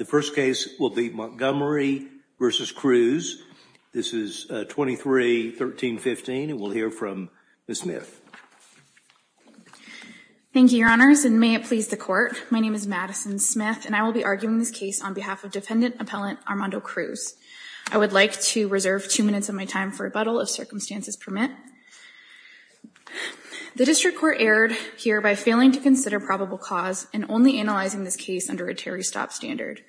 The first case will be Montgomery v. Cruz. This is 23-13-15, and we'll hear from Ms. Smith. Thank you, Your Honors, and may it please the Court. My name is Madison Smith, and I will be arguing this case on behalf of Defendant Appellant Armando Cruz. I would like to reserve two minutes of my time for rebuttal if circumstances permit. The district court erred here by failing to consider probable cause and only analyzing this case under a tarry stop standard.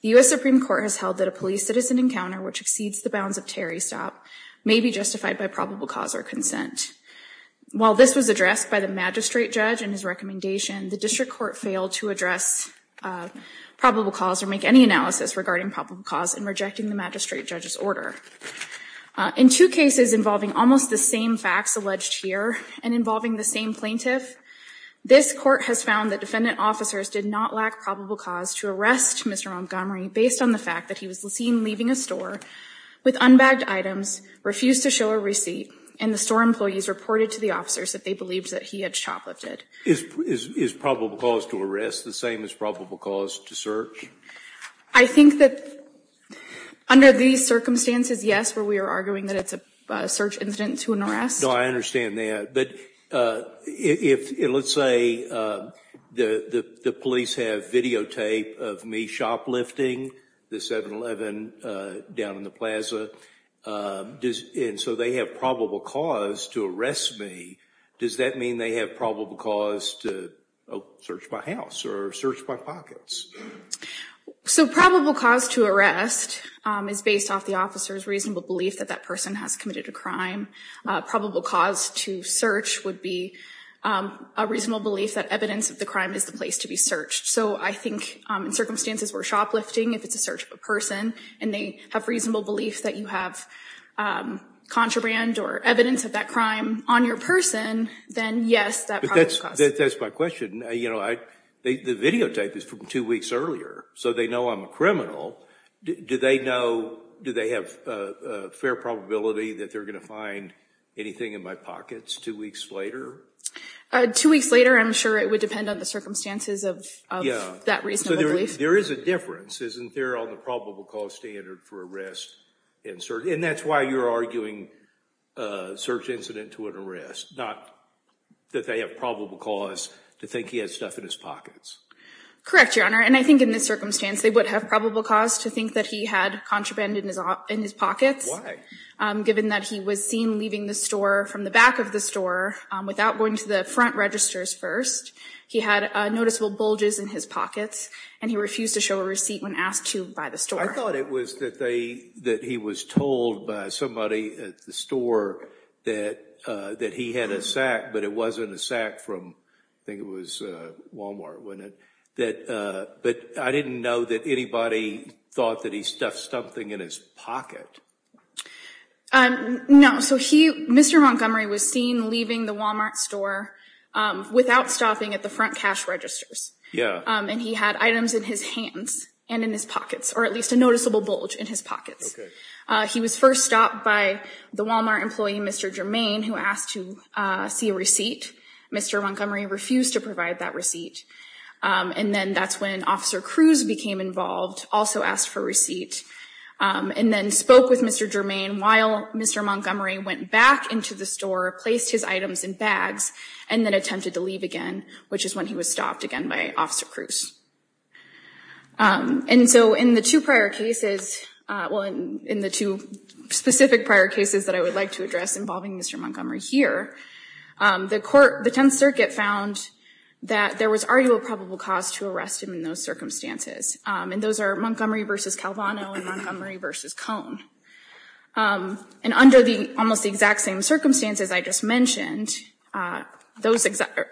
The US Supreme Court has held that a police-citizen encounter which exceeds the bounds of tarry stop may be justified by probable cause or consent. While this was addressed by the magistrate judge in his recommendation, the district court failed to address probable cause or make any analysis regarding probable cause in rejecting the magistrate judge's order. In two cases involving almost the same facts alleged here and involving the same plaintiff, this court has found that defendant officers did not lack probable cause to arrest Mr. Montgomery based on the fact that he was seen leaving a store with unbagged items, refused to show a receipt, and the store employees reported to the officers that they believed that he had shoplifted. Is probable cause to arrest the same as probable cause to search? I think that under these circumstances, yes, where we are arguing that it's a search incident to an arrest. No, I understand that. But let's say the police have videotape of me shoplifting the 7-Eleven down in the plaza. And so they have probable cause to arrest me. Does that mean they have probable cause to search my house or search my pockets? So probable cause to arrest is based off the officer's reasonable belief that that person has committed a crime. Probable cause to search would be a reasonable belief that evidence of the crime is the place to be searched. So I think in circumstances where shoplifting, if it's a search of a person and they have reasonable belief that you have contraband or evidence of that crime on your person, then yes, that probable cause. That's my question. The videotape is from two weeks earlier. So they know I'm a criminal. Do they have a fair probability that they're going to find anything in my pockets two weeks later? Two weeks later, I'm sure it would depend on the circumstances of that reasonable belief. There is a difference, isn't there, on the probable cause standard for arrest? And that's why you're arguing search incident to an arrest, not that they have probable cause to think he has stuff in his pockets. Correct, Your Honor. And I think in this circumstance, they would have probable cause to think that he had contraband in his pockets. Why? Given that he was seen leaving the store from the back of the store without going to the front registers first, he had noticeable bulges in his pockets, and he refused to show a receipt when asked to by the store. I thought it was that he was told by somebody at the store that he had a sack, but it wasn't a sack from, I think it was Walmart, wasn't it? But I didn't know that anybody thought that he had something in his pocket. No. Mr. Montgomery was seen leaving the Walmart store without stopping at the front cash registers, and he had items in his hands and in his pockets, or at least a noticeable bulge in his pockets. He was first stopped by the Walmart employee, Mr. Germain, who asked to see a receipt. Mr. Montgomery refused to provide that receipt. And then that's when Officer Cruz became involved, also asked for a receipt, and then spoke with Mr. Germain while Mr. Montgomery went back into the store, placed his items in bags, and then attempted to leave again, which is when he was stopped again by Officer Cruz. And so in the two prior cases, well, in the two specific prior cases that I would like to address involving Mr. Montgomery here, the Tenth Circuit found that there was already a probable cause to arrest him in those circumstances. And those are Montgomery versus Calvano and Montgomery versus Cone. And under almost the exact same circumstances I just mentioned,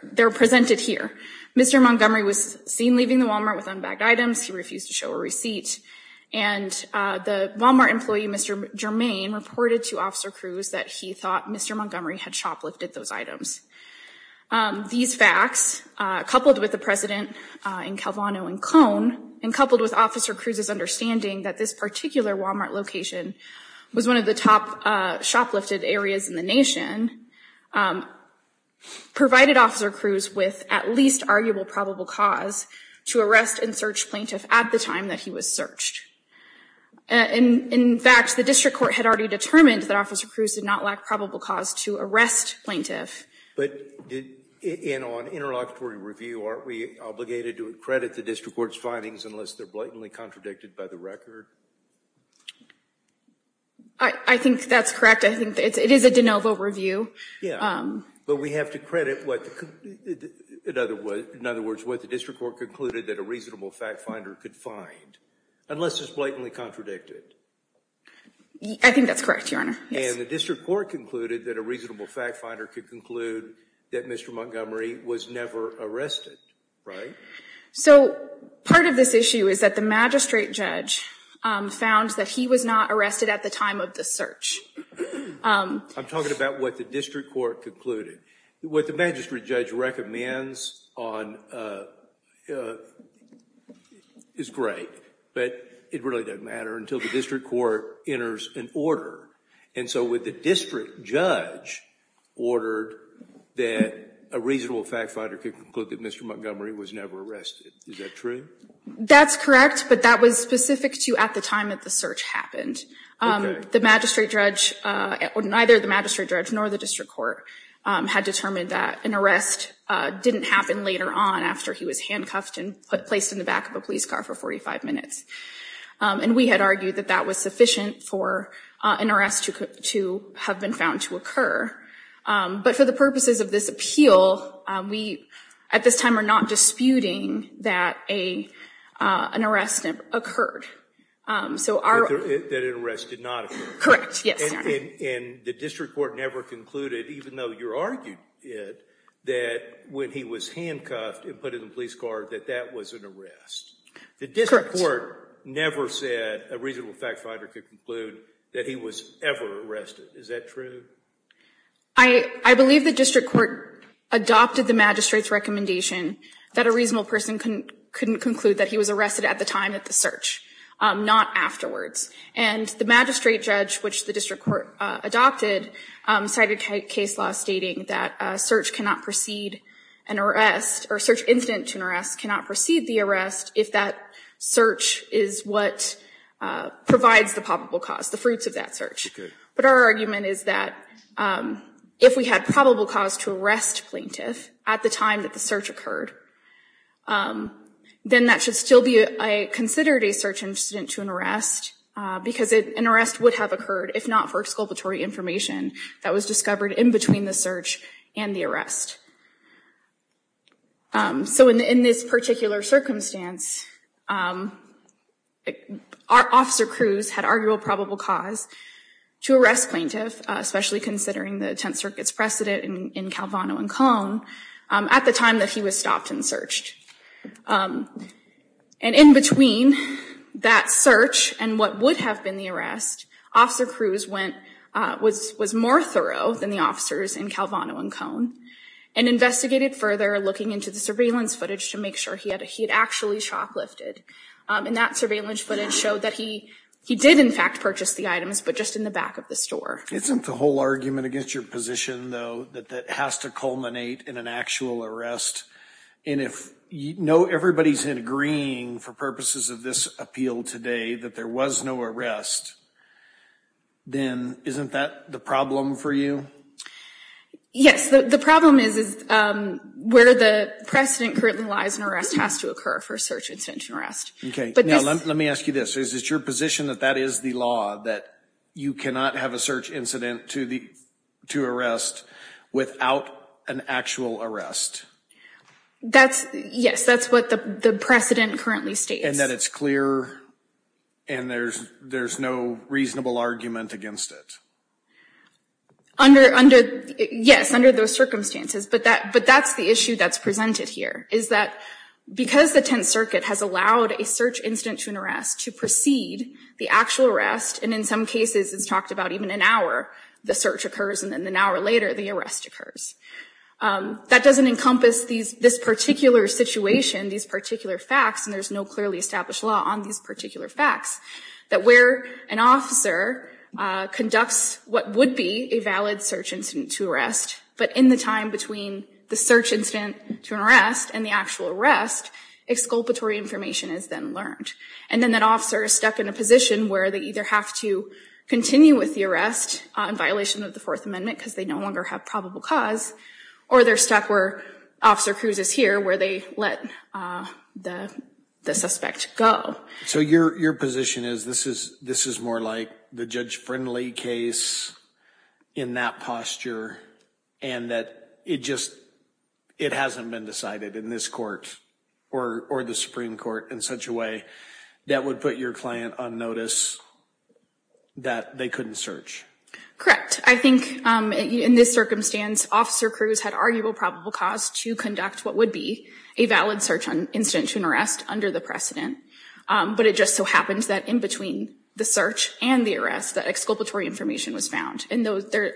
they're presented here. Mr. Montgomery was seen leaving the Walmart with unbagged items. He refused to show a receipt. And the Walmart employee, Mr. Germain, reported to Officer Cruz that he thought Mr. Montgomery had shoplifted those items. These facts, coupled with the precedent in Calvano and Cone, and coupled with Officer Cruz's understanding that this particular Walmart location was one of the top shoplifted areas in the nation, provided Officer Cruz with at least arguable probable cause to arrest and search plaintiff at the time that he was searched. And in fact, the district court had already determined that Officer Cruz did not lack probable cause to arrest plaintiff. But on interlocutory review, aren't we obligated to credit the district court's findings unless they're blatantly contradicted by the record? I think that's correct. I think it is a de novo review. Yeah, but we have to credit what the district court concluded that a reasonable fact finder could find, unless it's blatantly contradicted. I think that's correct, Your Honor. And the district court concluded that a reasonable fact finder could conclude that Mr. Montgomery was never arrested, right? So part of this issue is that the magistrate judge found that he was not arrested at the time of the search. I'm talking about what the district court concluded. What the magistrate judge recommends is great, but it really doesn't matter until the district court enters an order. And so with the district judge ordered that a reasonable fact finder could conclude that Mr. Montgomery was never arrested. Is that true? That's correct, but that was specific to at the time that the search happened. The magistrate judge, or neither the magistrate judge nor the district court, had determined that an arrest didn't happen later on after he was handcuffed and placed in the back of a police car for 45 minutes. And we had argued that that was sufficient for an arrest to have been found to occur. But for the purposes of this appeal, we at this time are not disputing that an arrest occurred. So our- That an arrest did not occur. Correct, yes. And the district court never concluded, even though you argued it, that when he was handcuffed and put in the police car, that that was an arrest. The district court never said a reasonable fact finder could conclude that he was ever arrested. Is that true? I believe the district court adopted the magistrate's recommendation that a reasonable person couldn't conclude that he was arrested at the time of the search, not afterwards. And the magistrate judge, which the district court adopted, cited case law stating that a search cannot proceed an arrest, or search incident to an arrest cannot proceed the arrest, if that search is what provides the probable cause, the fruits of that search. But our argument is that if we had probable cause to arrest plaintiff at the time that the search occurred, then that should still be considered a search incident to an arrest, because an arrest would have occurred, if not for exculpatory information that was discovered in between the search and the arrest. So in this particular circumstance, Officer Cruz had arguable probable cause to arrest plaintiff, especially considering the Tenth Circuit's precedent in Calvano and Cone, at the time that he was stopped and searched. And in between that search and what would have been the arrest, Officer Cruz was more thorough than the officers in Calvano and Cone. And investigated further, looking into the surveillance footage to make sure he had actually shoplifted. And that surveillance footage showed that he did, in fact, purchase the items, but just in the back of the store. Isn't the whole argument against your position, though, that that has to culminate in an actual arrest? And if you know everybody's agreeing, for purposes of this appeal today, that there was no arrest, then isn't that the problem for you? Yes. The problem is where the precedent currently lies in arrest has to occur for a search incident and arrest. OK. Now, let me ask you this. Is it your position that that is the law, that you cannot have a search incident to arrest without an actual arrest? That's, yes. That's what the precedent currently states. And that it's clear, and there's no reasonable argument against it? Under, yes, under those circumstances. But that's the issue that's presented here, is that because the Tenth Circuit has allowed a search incident to an arrest to precede the actual arrest, and in some cases, it's talked about even an hour, the search occurs, and then an hour later, the arrest occurs. That doesn't encompass this particular situation, these particular facts, and there's no clearly established law on these particular facts, that where an officer conducts what would be a valid search incident to arrest, but in the time between the search incident to an arrest and the actual arrest, exculpatory information is then learned. And then that officer is stuck in a position where they either have to continue with the arrest in violation of the Fourth Amendment, because they no longer have probable cause, or they're stuck where Officer Cruz is here, where they let the suspect go. So your position is, this is more like the judge-friendly case in that posture, and that it just hasn't been decided in this court, or the Supreme Court in such a way, that would put your client on notice that they couldn't search? Correct. I think in this circumstance, Officer Cruz had arguable probable cause to conduct what would be a valid search incident to an arrest under the precedent. But it just so happens that in between the search and the arrest, that exculpatory information was found. And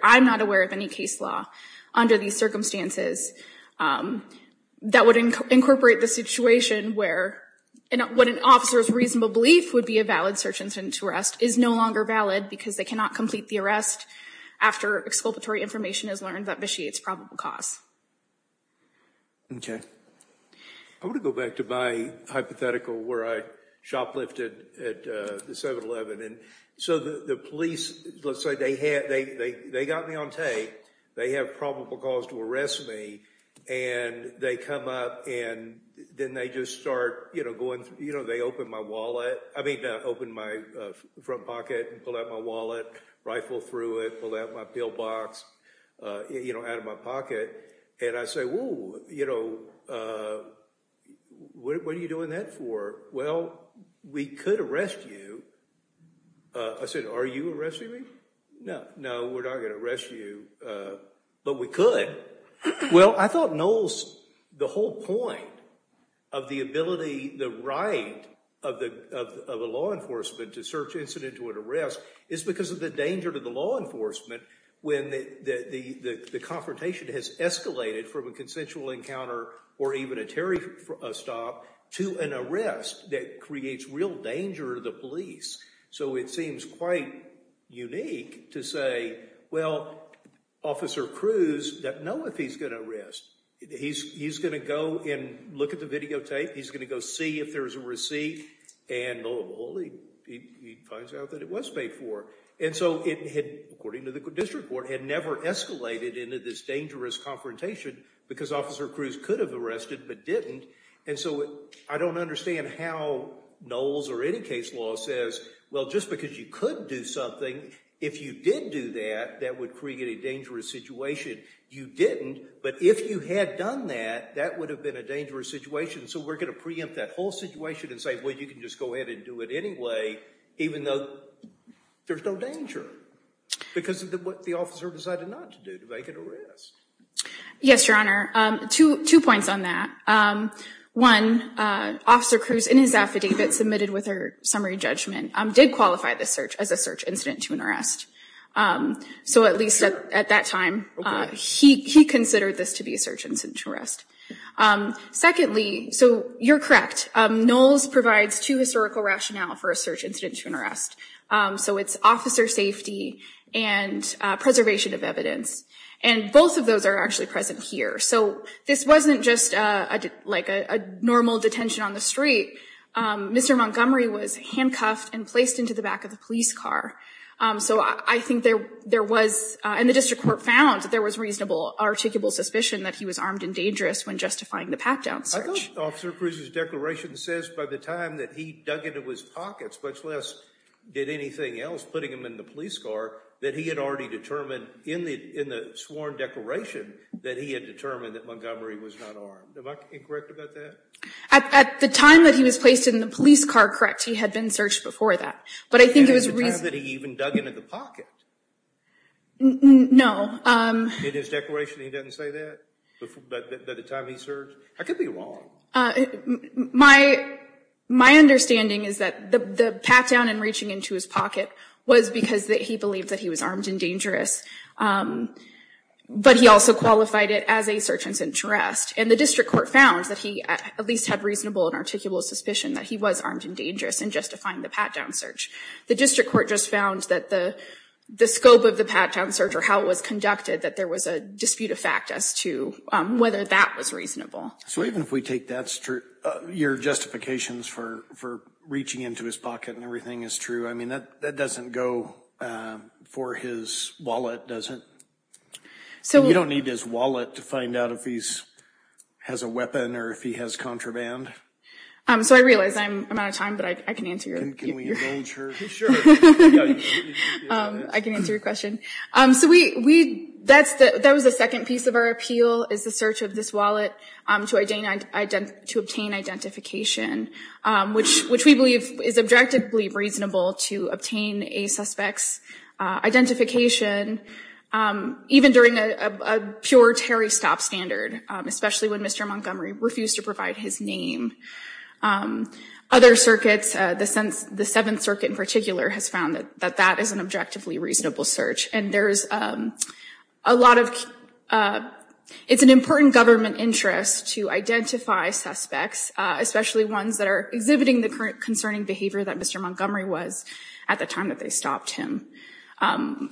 I'm not aware of any case law under these circumstances that would incorporate the situation where what an officer's reasonable belief would be a valid search incident to arrest is no longer valid, because they cannot complete the arrest after exculpatory information is learned that vitiates probable cause. OK. I want to go back to my hypothetical where I shoplifted at the 7-Eleven. And so the police, let's say they got me on tape. They have probable cause to arrest me. And they come up, and then they just start going through. They open my wallet. I mean, open my front pocket and pull out my wallet, rifle through it, pull out my pill box out of my pocket. And I say, whoa, what are you doing that for? Well, we could arrest you. I said, are you arresting me? No, no, we're not going to arrest you. But we could. Well, I thought Knowles, the whole point of the ability, the right of the law enforcement to search incident to an arrest is because of the danger to the law enforcement when the confrontation has escalated from a consensual encounter or even a stop to an arrest that creates real danger to the police. So it seems quite unique to say, well, Officer Cruz doesn't know if he's going to arrest. He's going to go and look at the videotape. He's going to go see if there is a receipt. And lo and behold, he finds out that it was paid for. And so it had, according to the district court, had never escalated into this dangerous confrontation because Officer Cruz could have arrested but didn't. And so I don't understand how Knowles or any case law says, well, just because you could do something, if you did do that, that would create a dangerous situation. You didn't. But if you had done that, that would have been a dangerous situation. So we're going to preempt that whole situation and say, well, you can just go ahead and do it anyway, even though there's no danger. Because of what the officer decided not to do, to make an arrest. Yes, Your Honor. Two points on that. One, Officer Cruz, in his affidavit submitted with her summary judgment, did qualify this search as a search incident to an arrest. So at least at that time, he considered this to be a search incident to arrest. Secondly, so you're correct. Knowles provides two historical rationale for a search incident to an arrest. So it's officer safety and preservation of evidence. And both of those are actually present here. So this wasn't just like a normal detention on the street. Mr. Montgomery was handcuffed and placed into the back of the police car. So I think there was, and the district court found that there was reasonable, articulable suspicion that he was armed and dangerous when justifying the pat-down search. I thought Officer Cruz's declaration says, by the time that he dug into his pockets, much less did anything else, putting him in the police car, that he had already determined in the sworn declaration that he had determined that Montgomery was not armed. Am I incorrect about that? At the time that he was placed in the police car, correct. He had been searched before that. But I think it was reasonable. And at the time that he even dug into the pocket. No. In his declaration, he doesn't say that? By the time he searched? I could be wrong. My understanding is that the pat-down and reaching into his pocket was because he believed that he was armed and dangerous. But he also qualified it as a search and interest. And the district court found that he at least had reasonable and articulable suspicion that he was armed and dangerous in justifying the pat-down search. The district court just found that the scope of the pat-down search, or how it was conducted, that there was a dispute of fact as to whether that was reasonable. So even if we take your justifications for reaching into his pocket and everything is true, I mean, that doesn't go for his wallet, does it? So you don't need his wallet to find out if he has a weapon or if he has contraband? So I realize I'm out of time, but I can answer your question. I can answer your question. So that was the second piece of our appeal, is the search of this wallet to obtain identification, which we believe is objectively reasonable to obtain a suspect's identification, even during a pure Terry stop standard, especially when Mr. Montgomery refused to provide his name. Other circuits, the Seventh Circuit in particular, has found that that is an objectively reasonable search. And there's a lot of, it's an important government interest to identify suspects, especially ones that are exhibiting the current concerning behavior that Mr. Montgomery was at the time that they stopped him.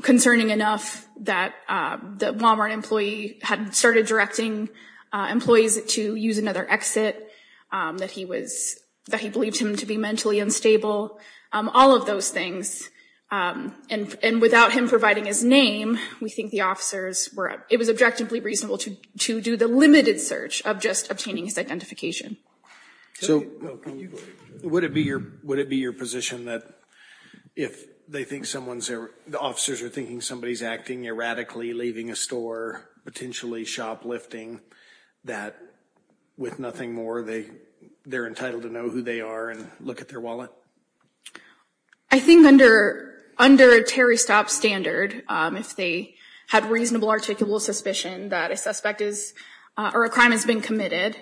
Concerning enough that the Walmart employee had started directing employees to use another exit, that he believed him to be mentally unstable, all of those things. And without him providing his name, we think the officers were, it was objectively reasonable to do the limited search of just obtaining his identification. So would it be your position that if they think someone's, the officers are thinking somebody's acting erratically, leaving a store, potentially shoplifting, that with nothing more, they're entitled to know who they are and look at their wallet? I think under a Terry Stop standard, if they had reasonable articulable suspicion that a suspect is, or a crime has been committed,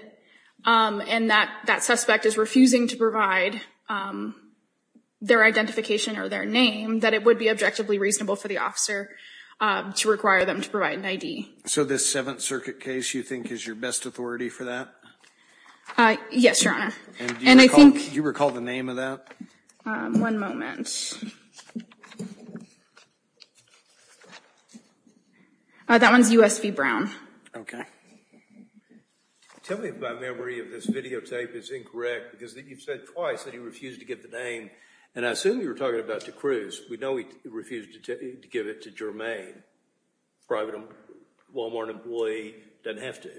and that suspect is refusing to provide their identification or their name, that it would be objectively reasonable for the officer to require them to provide an ID. So this Seventh Circuit case, you think, is your best authority for that? Yes, Your Honor. And do you recall the name of that? One moment. That one's USV Brown. OK. Tell me if my memory of this videotape is incorrect, because you've said twice that he refused to give the name. And I assume you were talking about to Cruz. We know he refused to give it to Jermaine, private Walmart employee, doesn't have to.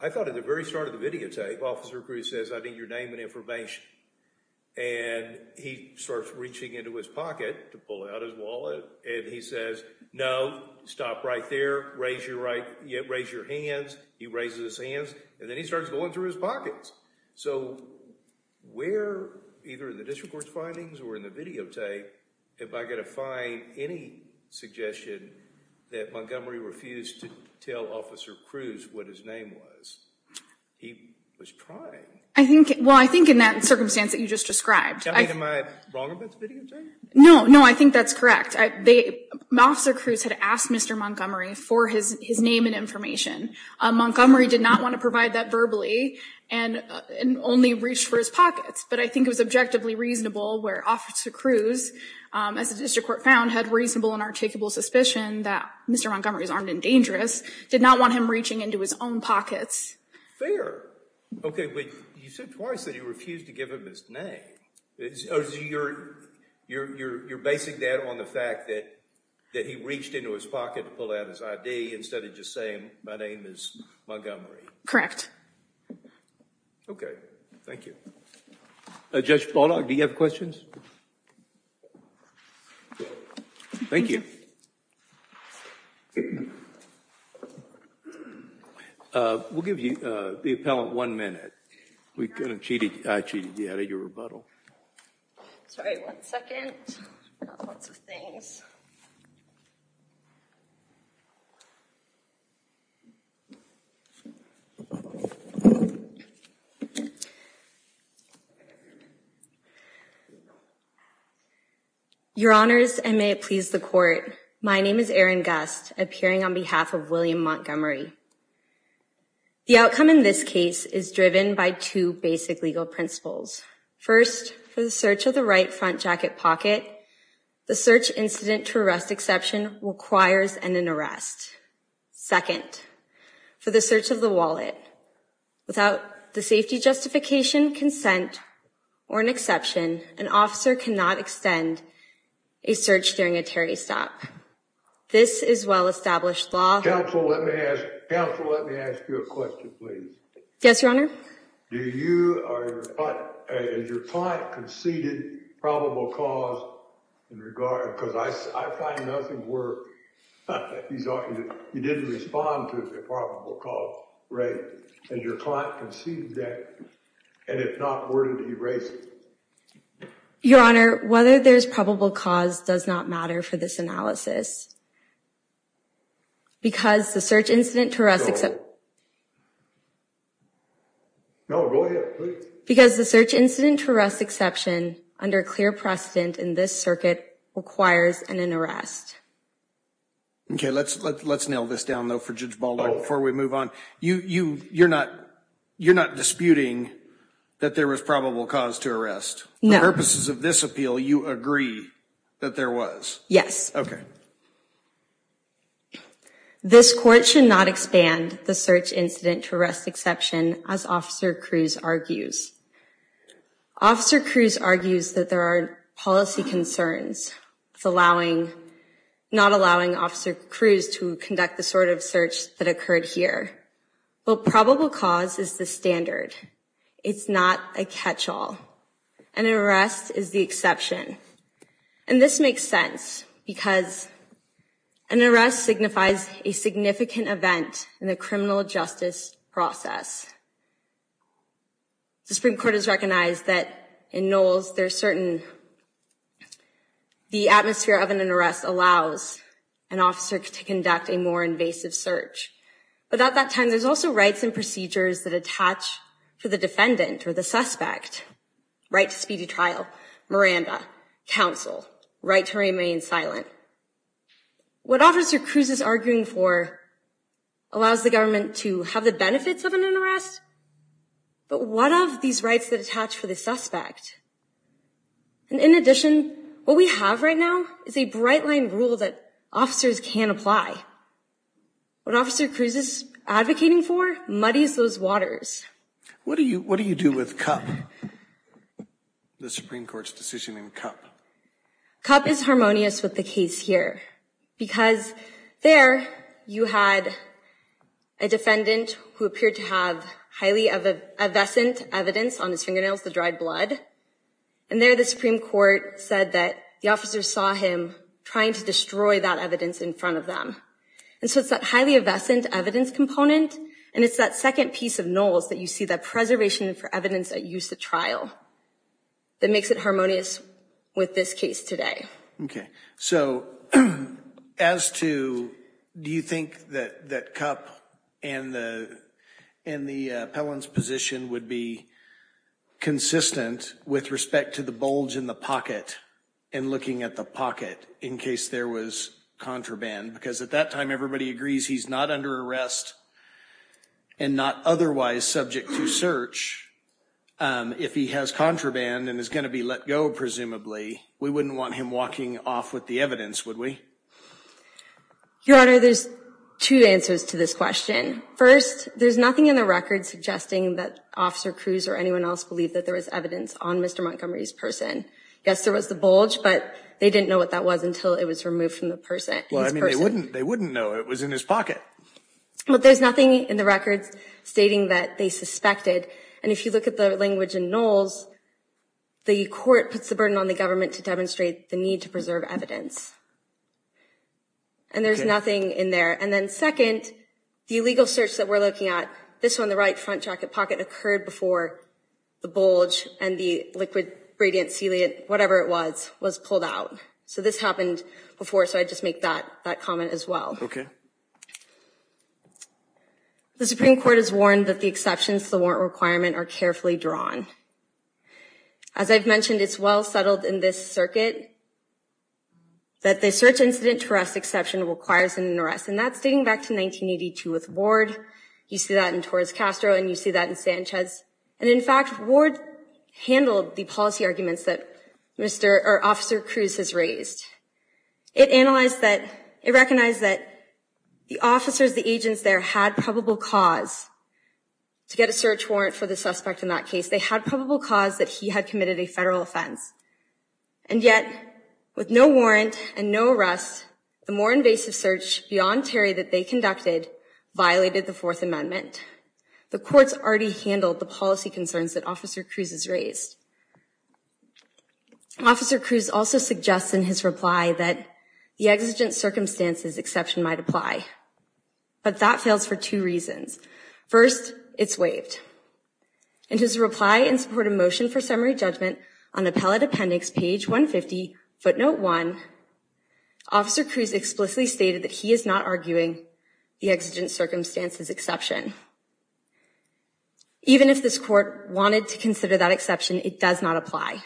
I thought at the very start of the videotape, Officer Cruz says, I need your name and information. And he starts reaching into his pocket to pull out his wallet. And he says, no, stop right there, raise your hands. He raises his hands, and then he starts going through his pockets. So where, either in the district court's findings or in the videotape, am I going to find any suggestion that Montgomery refused to tell Officer Cruz what his name was? He was trying. I think, well, I think in that circumstance that you just described. I mean, am I wrong about the videotape? No, no, I think that's correct. Officer Cruz had asked Mr. Montgomery for his name and information. Montgomery did not want to provide that verbally and only reached for his pockets. But I think it was objectively reasonable where Officer Cruz, as the district court found, had reasonable and articulable suspicion that Mr. Montgomery's armed and dangerous, did not want him reaching into his own pockets. Fair. OK, but you said twice that he refused to give him his name. You're basing that on the fact that he reached into his pocket to pull out his ID, instead of just saying, my name is Montgomery. Correct. OK, thank you. Judge Bullock, do you have questions? Thank you. We'll give you, the appellant, one minute. We kind of cheated you out of your rebuttal. Sorry, one second. I've got lots of things. Your honors, and may it please the court, my name is Erin Gust, appearing on behalf of William Montgomery. The outcome in this case is driven by two basic legal principles. First, for the search of the right front jacket pocket, the search incident to arrest exception requires an arrest. Second, for the search of the wallet, without the safety justification, consent, or an exception, an officer cannot extend a search during a charity stop. This is well-established law. Counsel, let me ask you a question, please. Yes, your honor. Do you or your client, has your client conceded probable cause in regard, because I find nothing where he didn't respond to the probable cause, right? Has your client conceded that? And if not, where did he raise it? Your honor, whether there's probable cause does not matter for this analysis, because the search incident to arrest exception, because the search incident to arrest exception, under clear precedent in this circuit, requires an arrest. OK, let's nail this down, though, for Judge Baldock before we move on. You're not disputing that there was probable cause to arrest? No. For purposes of this appeal, you agree that there was? Yes. OK. This court should not expand the search incident to arrest exception, as Officer Cruz argues. Officer Cruz argues that there are policy concerns, not allowing Officer Cruz to conduct the sort of search that occurred here. Well, probable cause is the standard. It's not a catch-all. An arrest is the exception. And this makes sense, because an arrest signifies a significant event in the criminal justice process. The Supreme Court has recognized that in Knowles, the atmosphere of an arrest allows an officer to conduct a more invasive search. But at that time, there's also rights and procedures that attach to the defendant or the suspect, right to speedy trial, Miranda, counsel, right to remain silent. What Officer Cruz is arguing for allows the government to have the benefits of an arrest, but what of these rights that attach for the suspect? And in addition, what we have right now is a bright-line rule that officers can apply. What Officer Cruz is advocating for is to embodies those waters. What do you do with Cupp, the Supreme Court's decision in Cupp? Cupp is harmonious with the case here, because there you had a defendant who appeared to have highly evescent evidence on his fingernails, the dried blood. And there the Supreme Court said that the officer saw him trying to destroy that evidence in front of them. And so it's that highly evescent evidence component, and it's that second piece of Knowles that you see, that preservation for evidence at use at trial, that makes it harmonious with this case today. OK. So as to, do you think that Cupp and the appellant's position would be consistent with respect to the bulge in the pocket and looking at the pocket in case there was contraband? Because at that time, everybody agrees he's not under arrest and not otherwise subject to search. If he has contraband and is going to be let go, presumably, we wouldn't want him walking off with the evidence, would we? Your Honor, there's two answers to this question. First, there's nothing in the record suggesting that Officer Cruz or anyone else believe that there is evidence on Mr. Montgomery's person. Yes, there was the bulge, but they didn't know what that was until it was removed from the person. Well, I mean, they wouldn't know it was in his pocket. But there's nothing in the records stating that they suspected. And if you look at the language in Knowles, the court puts the burden on the government to demonstrate the need to preserve evidence. And there's nothing in there. And then second, the illegal search that we're looking at, this one, the right front jacket pocket occurred before the bulge and the liquid gradient celiac, whatever it was, was pulled out. So this happened before, so I just make that comment as well. The Supreme Court has warned that the exceptions to the warrant requirement are carefully drawn. As I've mentioned, it's well settled in this circuit that the search incident to arrest exception requires an arrest. And that's dating back to 1982 with Ward. You see that in Torres Castro, and you see that in Sanchez. And in fact, Ward handled the policy arguments that Officer Cruz has raised. It analyzed that, it recognized that the officers, the agents there, had probable cause to get a search warrant for the suspect in that case. They had probable cause that he had committed a federal offense. And yet, with no warrant and no arrest, the more invasive search beyond Terry that they conducted violated the Fourth Amendment. The courts already handled the policy concerns that Officer Cruz has raised. Officer Cruz also suggests in his reply that the exigent circumstances exception might apply. But that fails for two reasons. First, it's waived. In his reply in support of motion for summary judgment on appellate appendix page 150, footnote one, Officer Cruz explicitly stated that he is not arguing the exigent circumstances exception. Even if this court wanted to consider that exception, it does not apply.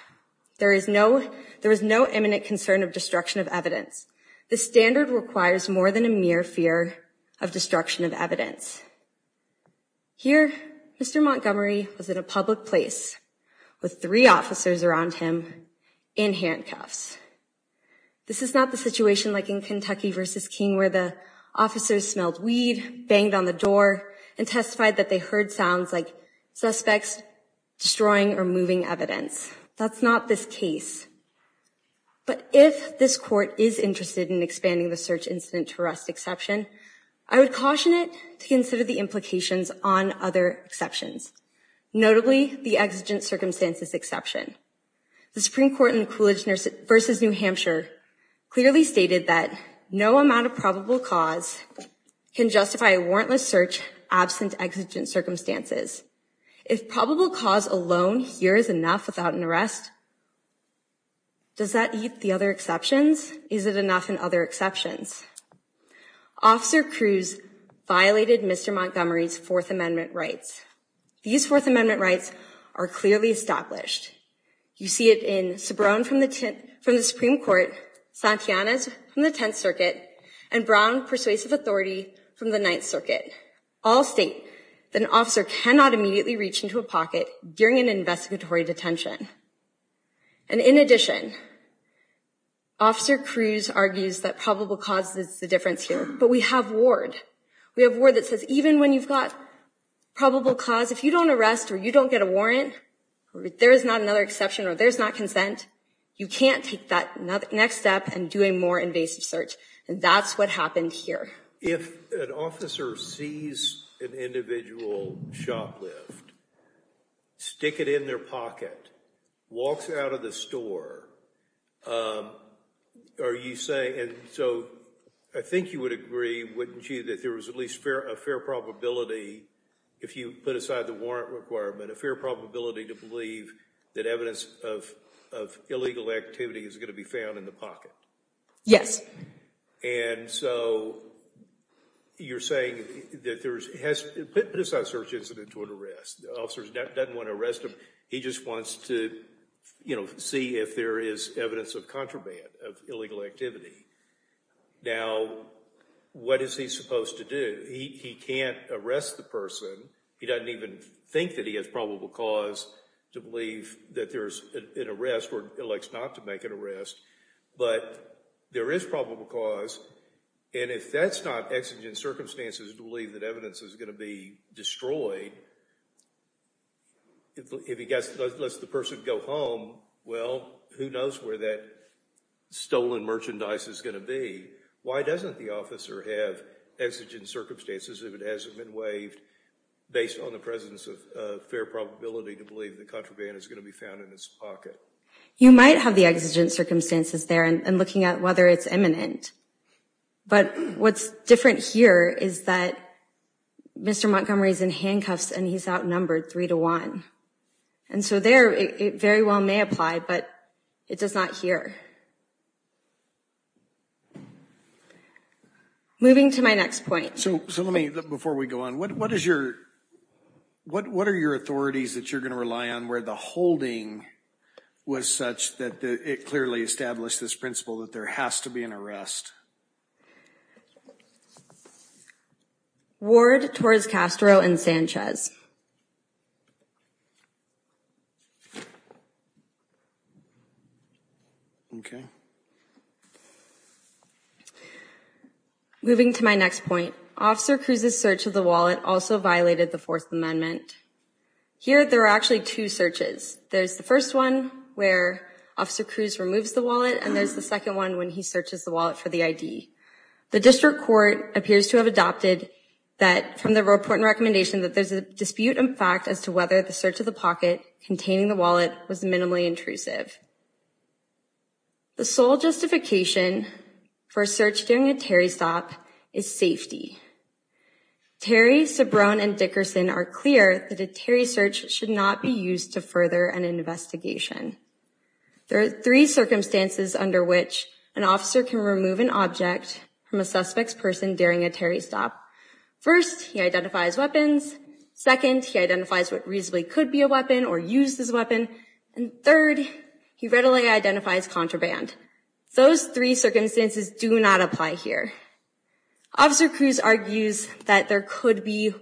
There is no imminent concern of destruction of evidence. The standard requires more than a mere fear of destruction of evidence. Here, Mr. Montgomery was in a public place with three officers around him in handcuffs. This is not the situation like in Kentucky versus King, where the officers smelled weed, banged on the door, and testified that they heard sounds like suspects destroying or moving evidence. That's not this case. But if this court is interested in expanding the search incident to arrest exception, I would caution it to consider the implications on other exceptions. Notably, the exigent circumstances exception. The Supreme Court in Coolidge versus New Hampshire clearly stated that no amount of probable cause can justify a warrantless search absent exigent circumstances. If probable cause alone here is enough without an arrest, does that eat the other exceptions? Is it enough in other exceptions? Officer Cruz violated Mr. Montgomery's Fourth Amendment rights. These Fourth Amendment rights are clearly established. You see it in Sobran from the Supreme Court, Santillanes from the Tenth Circuit, and Brown persuasive authority from the Ninth Circuit. All state that an officer cannot immediately reach into a pocket during an investigatory detention. And in addition, Officer Cruz argues that probable cause is the difference here. But we have Ward. We have Ward that says even when you've got probable cause, if you don't arrest or you don't get a warrant, there is not another exception or there's not consent, you can't take that next step and do a more invasive search. And that's what happened here. If an officer sees an individual shoplift, stick it in their pocket, walks out of the store, are you saying, and so I think you would agree, wouldn't you, that there was at least a fair probability if you put aside the warrant requirement, a fair probability to believe that evidence of illegal activity is gonna be found in the pocket? Yes. And so you're saying that there's, put aside search incident to an arrest. The officer doesn't wanna arrest him, he just wants to see if there is evidence of contraband, of illegal activity. Now, what is he supposed to do? He can't arrest the person. He doesn't even think that he has probable cause to believe that there's an arrest or elects not to make an arrest. But there is probable cause, and if that's not exigent circumstances to believe that evidence is gonna be destroyed, if he lets the person go home, well, who knows where that stolen merchandise is gonna be. Why doesn't the officer have exigent circumstances if it hasn't been waived based on the presence of fair probability to believe that contraband is gonna be found in his pocket? You might have the exigent circumstances there and looking at whether it's imminent. But what's different here is that Mr. Montgomery's in handcuffs and he's outnumbered three to one. And so there, it very well may apply, but it does not here. Moving to my next point. So let me, before we go on, what are your authorities that you're gonna rely on where the holding was such that it clearly established this principle that there has to be an arrest? Ward, Torres-Castro, and Sanchez. Okay. Moving to my next point. Officer Cruz's search of the wallet also violated the Fourth Amendment. Here, there are actually two searches. There's the first one where Officer Cruz removes the wallet and there's the second one when he searches the wallet for the ID. The district court appears to have adopted that from the report and recommendation that there's a dispute in fact as to whether the search of the pocket containing the wallet was minimally intrusive. The sole justification for a search during a Terry stop is safety. Terry, Sobrone, and Dickerson are clear that a Terry search should not be used to further an investigation. There are three circumstances under which an officer can remove an object from a suspect's person during a Terry stop. First, he identifies weapons. Second, he identifies what reasonably could be a weapon or use this weapon. And third, he readily identifies contraband. Those three circumstances do not apply here. Officer Cruz argues that there could be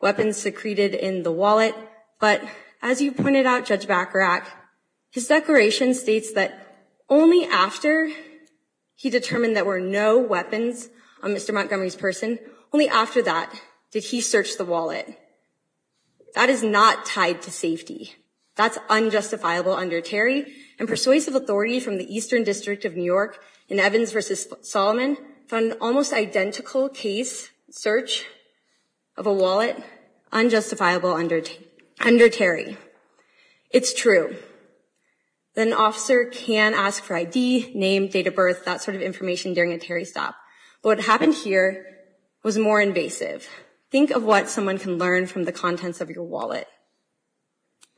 weapons secreted in the wallet, but as you pointed out, Judge Bacharach, his declaration states that only after he determined there were no weapons on Mr. Montgomery's person, only after that did he search the wallet. That is not tied to safety. That's unjustifiable under Terry. And persuasive authority from the Eastern District of New York in Evans versus Solomon found an almost identical case search of a wallet, unjustifiable under Terry. It's true that an officer can ask for ID, name, date of birth, that sort of information during a Terry stop. What happened here was more invasive. Think of what someone can learn from the contents of your wallet,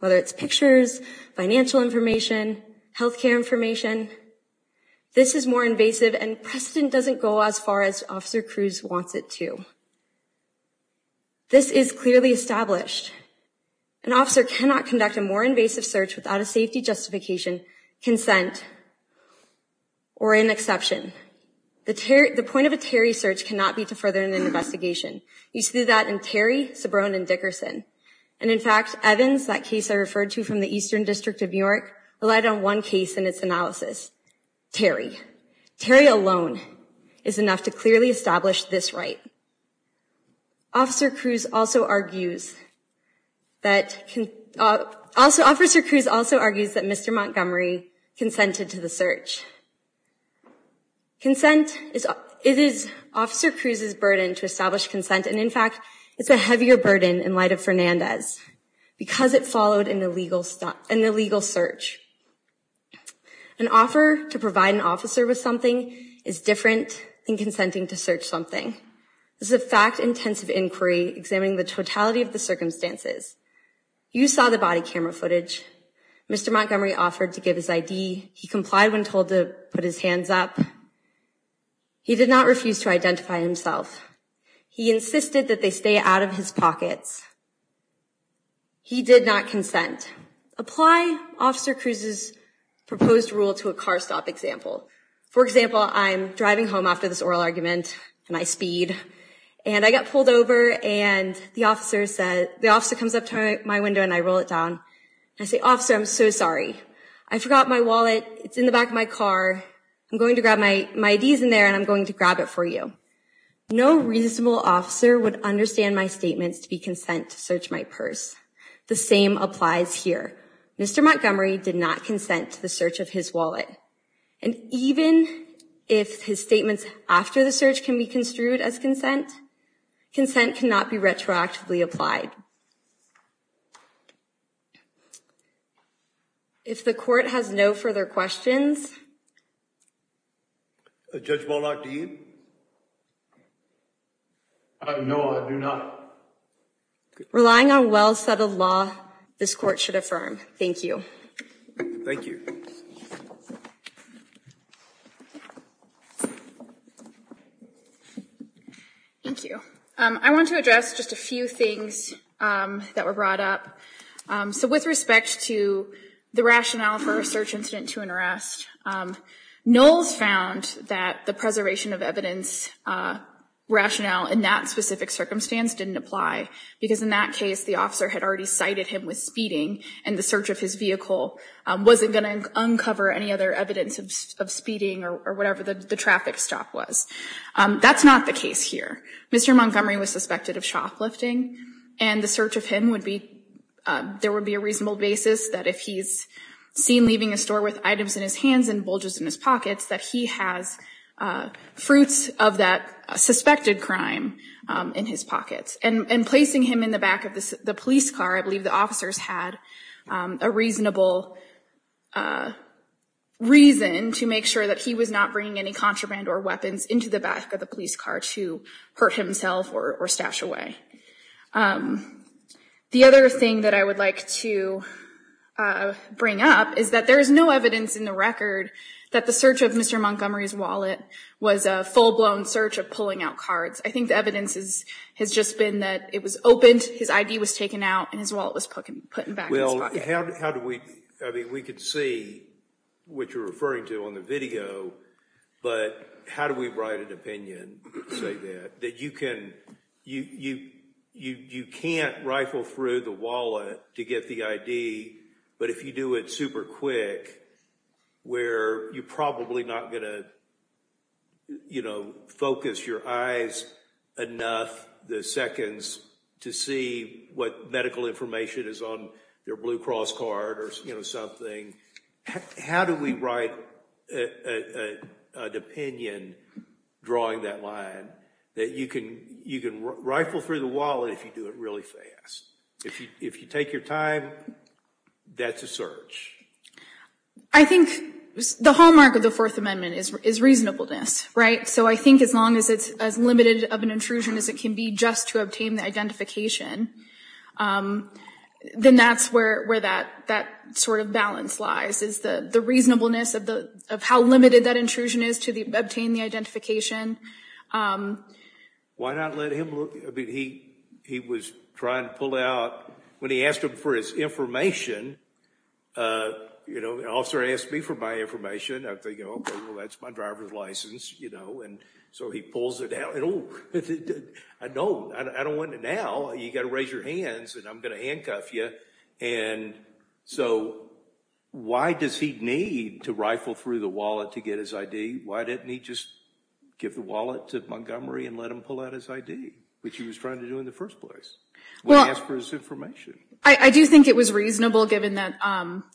whether it's pictures, financial information, healthcare information, this is more invasive and precedent doesn't go as far as Officer Cruz wants it to. This is clearly established. An officer cannot conduct a more invasive search without a safety justification, consent, or an exception. The point of a Terry search cannot be to further an investigation. You see that in Terry, Sobrone, and Dickerson. And in fact, Evans, that case I referred to from the Eastern District of New York, relied on one case in its analysis, Terry. Terry alone is enough to clearly establish this right. Officer Cruz also argues that, Officer Cruz also argues that Mr. Montgomery consented to the search. Consent, it is Officer Cruz's burden to establish consent, and in fact, it's a heavier burden in light of Fernandez because it followed an illegal search. An offer to provide an officer with something is different than consenting to search something. This is a fact-intensive inquiry examining the totality of the circumstances. You saw the body camera footage. Mr. Montgomery offered to give his ID. He complied when told to put his hands up. He did not refuse to identify himself. He insisted that they stay out of his pockets. He did not consent. Apply Officer Cruz's proposed rule to a car stop example. For example, I'm driving home after this oral argument, and I speed, and I get pulled over, and the officer comes up to my window and I roll it down. I say, Officer, I'm so sorry. I forgot my wallet, it's in the back of my car. I'm going to grab my IDs in there, and I'm going to grab it for you. No reasonable officer would understand my statements to be consent to search my purse. The same applies here. Mr. Montgomery did not consent to the search of his wallet. And even if his statements after the search can be construed as consent, consent cannot be retroactively applied. If the court has no further questions. Judge Waldock, do you? No, I do not. Relying on well-settled law, this court should affirm. Thank you. Thank you. Thank you. I want to address just a few things that were brought up. So with respect to the rationale for a search incident to an arrest, Knowles found that the preservation of evidence rationale in that specific circumstance didn't apply, because in that case, the officer had already cited him with speeding, and the search of his vehicle wasn't going to uncover any other evidence of speeding or whatever the traffic stop was. That's not the case here. Mr. Montgomery was suspected of shoplifting, and the search of him would be, there would be a reasonable basis that if he's seen leaving a store with items in his hands and bulges in his pockets, that he has fruits of that suspected crime in his pockets. And placing him in the back of the police car, I believe the officers had a reasonable reason to make sure that he was not bringing any contraband or weapons into the back of the police car to hurt himself or stash away. The other thing that I would like to bring up is that there is no evidence in the record that the search of Mr. Montgomery's wallet was a full-blown search of pulling out cards. I think the evidence has just been that it was opened, his ID was taken out, and his wallet was put back in his pocket. How do we, I mean, we could see what you're referring to on the video, but how do we write an opinion, say that, that you can't rifle through the wallet to get the ID, but if you do it super quick, where you're probably not gonna focus your eyes enough the seconds to see what medical information is on their Blue Cross card or something, how do we write an opinion drawing that line that you can rifle through the wallet if you do it really fast? If you take your time, that's a search. I think the hallmark of the Fourth Amendment is reasonableness, right? So I think as long as it's as limited of an intrusion as it can be just to obtain the identification, then that's where that sort of balance lies is the reasonableness of how limited that intrusion is to obtain the identification. Why not let him, I mean, he was trying to pull out, when he asked him for his information, you know, the officer asked me for my information. I think, oh, well, that's my driver's license, you know, and so he pulls it out, and oh, I know, I don't want it now, you gotta raise your hands and I'm gonna handcuff you, and so why does he need to rifle through the wallet to get his ID? Why didn't he just give the wallet to Montgomery and let him pull out his ID, which he was trying to do in the first place when he asked for his information? I do think it was reasonable, given that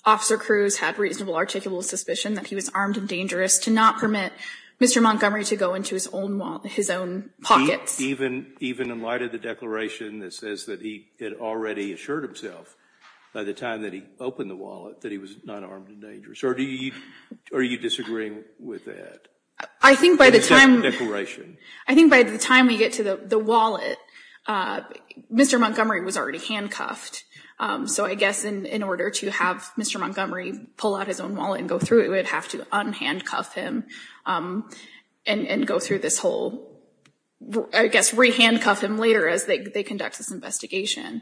Officer Cruz had reasonable articulable suspicion that he was armed and dangerous to not permit Mr. Montgomery to go into his own pockets. Even in light of the declaration that says that he had already assured himself by the time that he opened the wallet that he was not armed and dangerous, or are you disagreeing with that declaration? I think by the time we get to the wallet, Mr. Montgomery was already handcuffed, so I guess in order to have Mr. Montgomery pull out his own wallet and go through it, we'd have to unhandcuff him and go through this whole, I guess, re-handcuff him later as they conduct this investigation,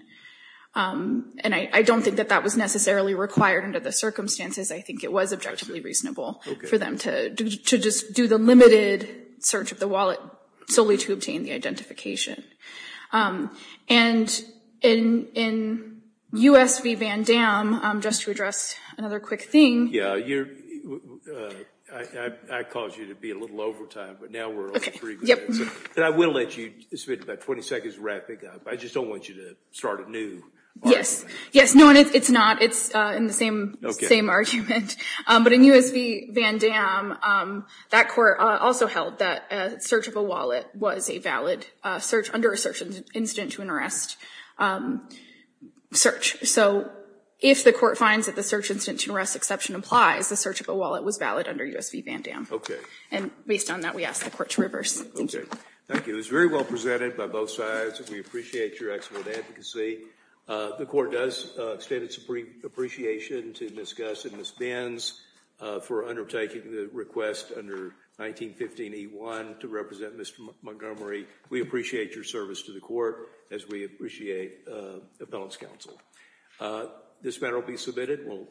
and I don't think that that was necessarily required under the circumstances. I think it was objectively reasonable for them to just do the limited search of the wallet solely to obtain the identification. And in US v. Van Damme, just to address another quick thing. Yeah, I caused you to be a little over time, but now we're on three minutes. And I will let you, this will be about 20 seconds wrapping up, I just don't want you to start anew. Yes, yes, no, it's not, it's in the same argument. But in US v. Van Damme, that court also held that search of a wallet was a valid search, under a search incident to an arrest search. So if the court finds that the search incident to an arrest exception applies, the search of a wallet was valid under US v. Van Damme. And based on that, we ask the court to reverse. Thank you. Thank you, it was very well presented by both sides. We appreciate your excellent advocacy. The court does extend its appreciation to Ms. Guss and Ms. Benz for undertaking the request under 1915 E1 to represent Mr. Montgomery. We appreciate your service to the court, as we appreciate Appellant's counsel. This matter will be submitted.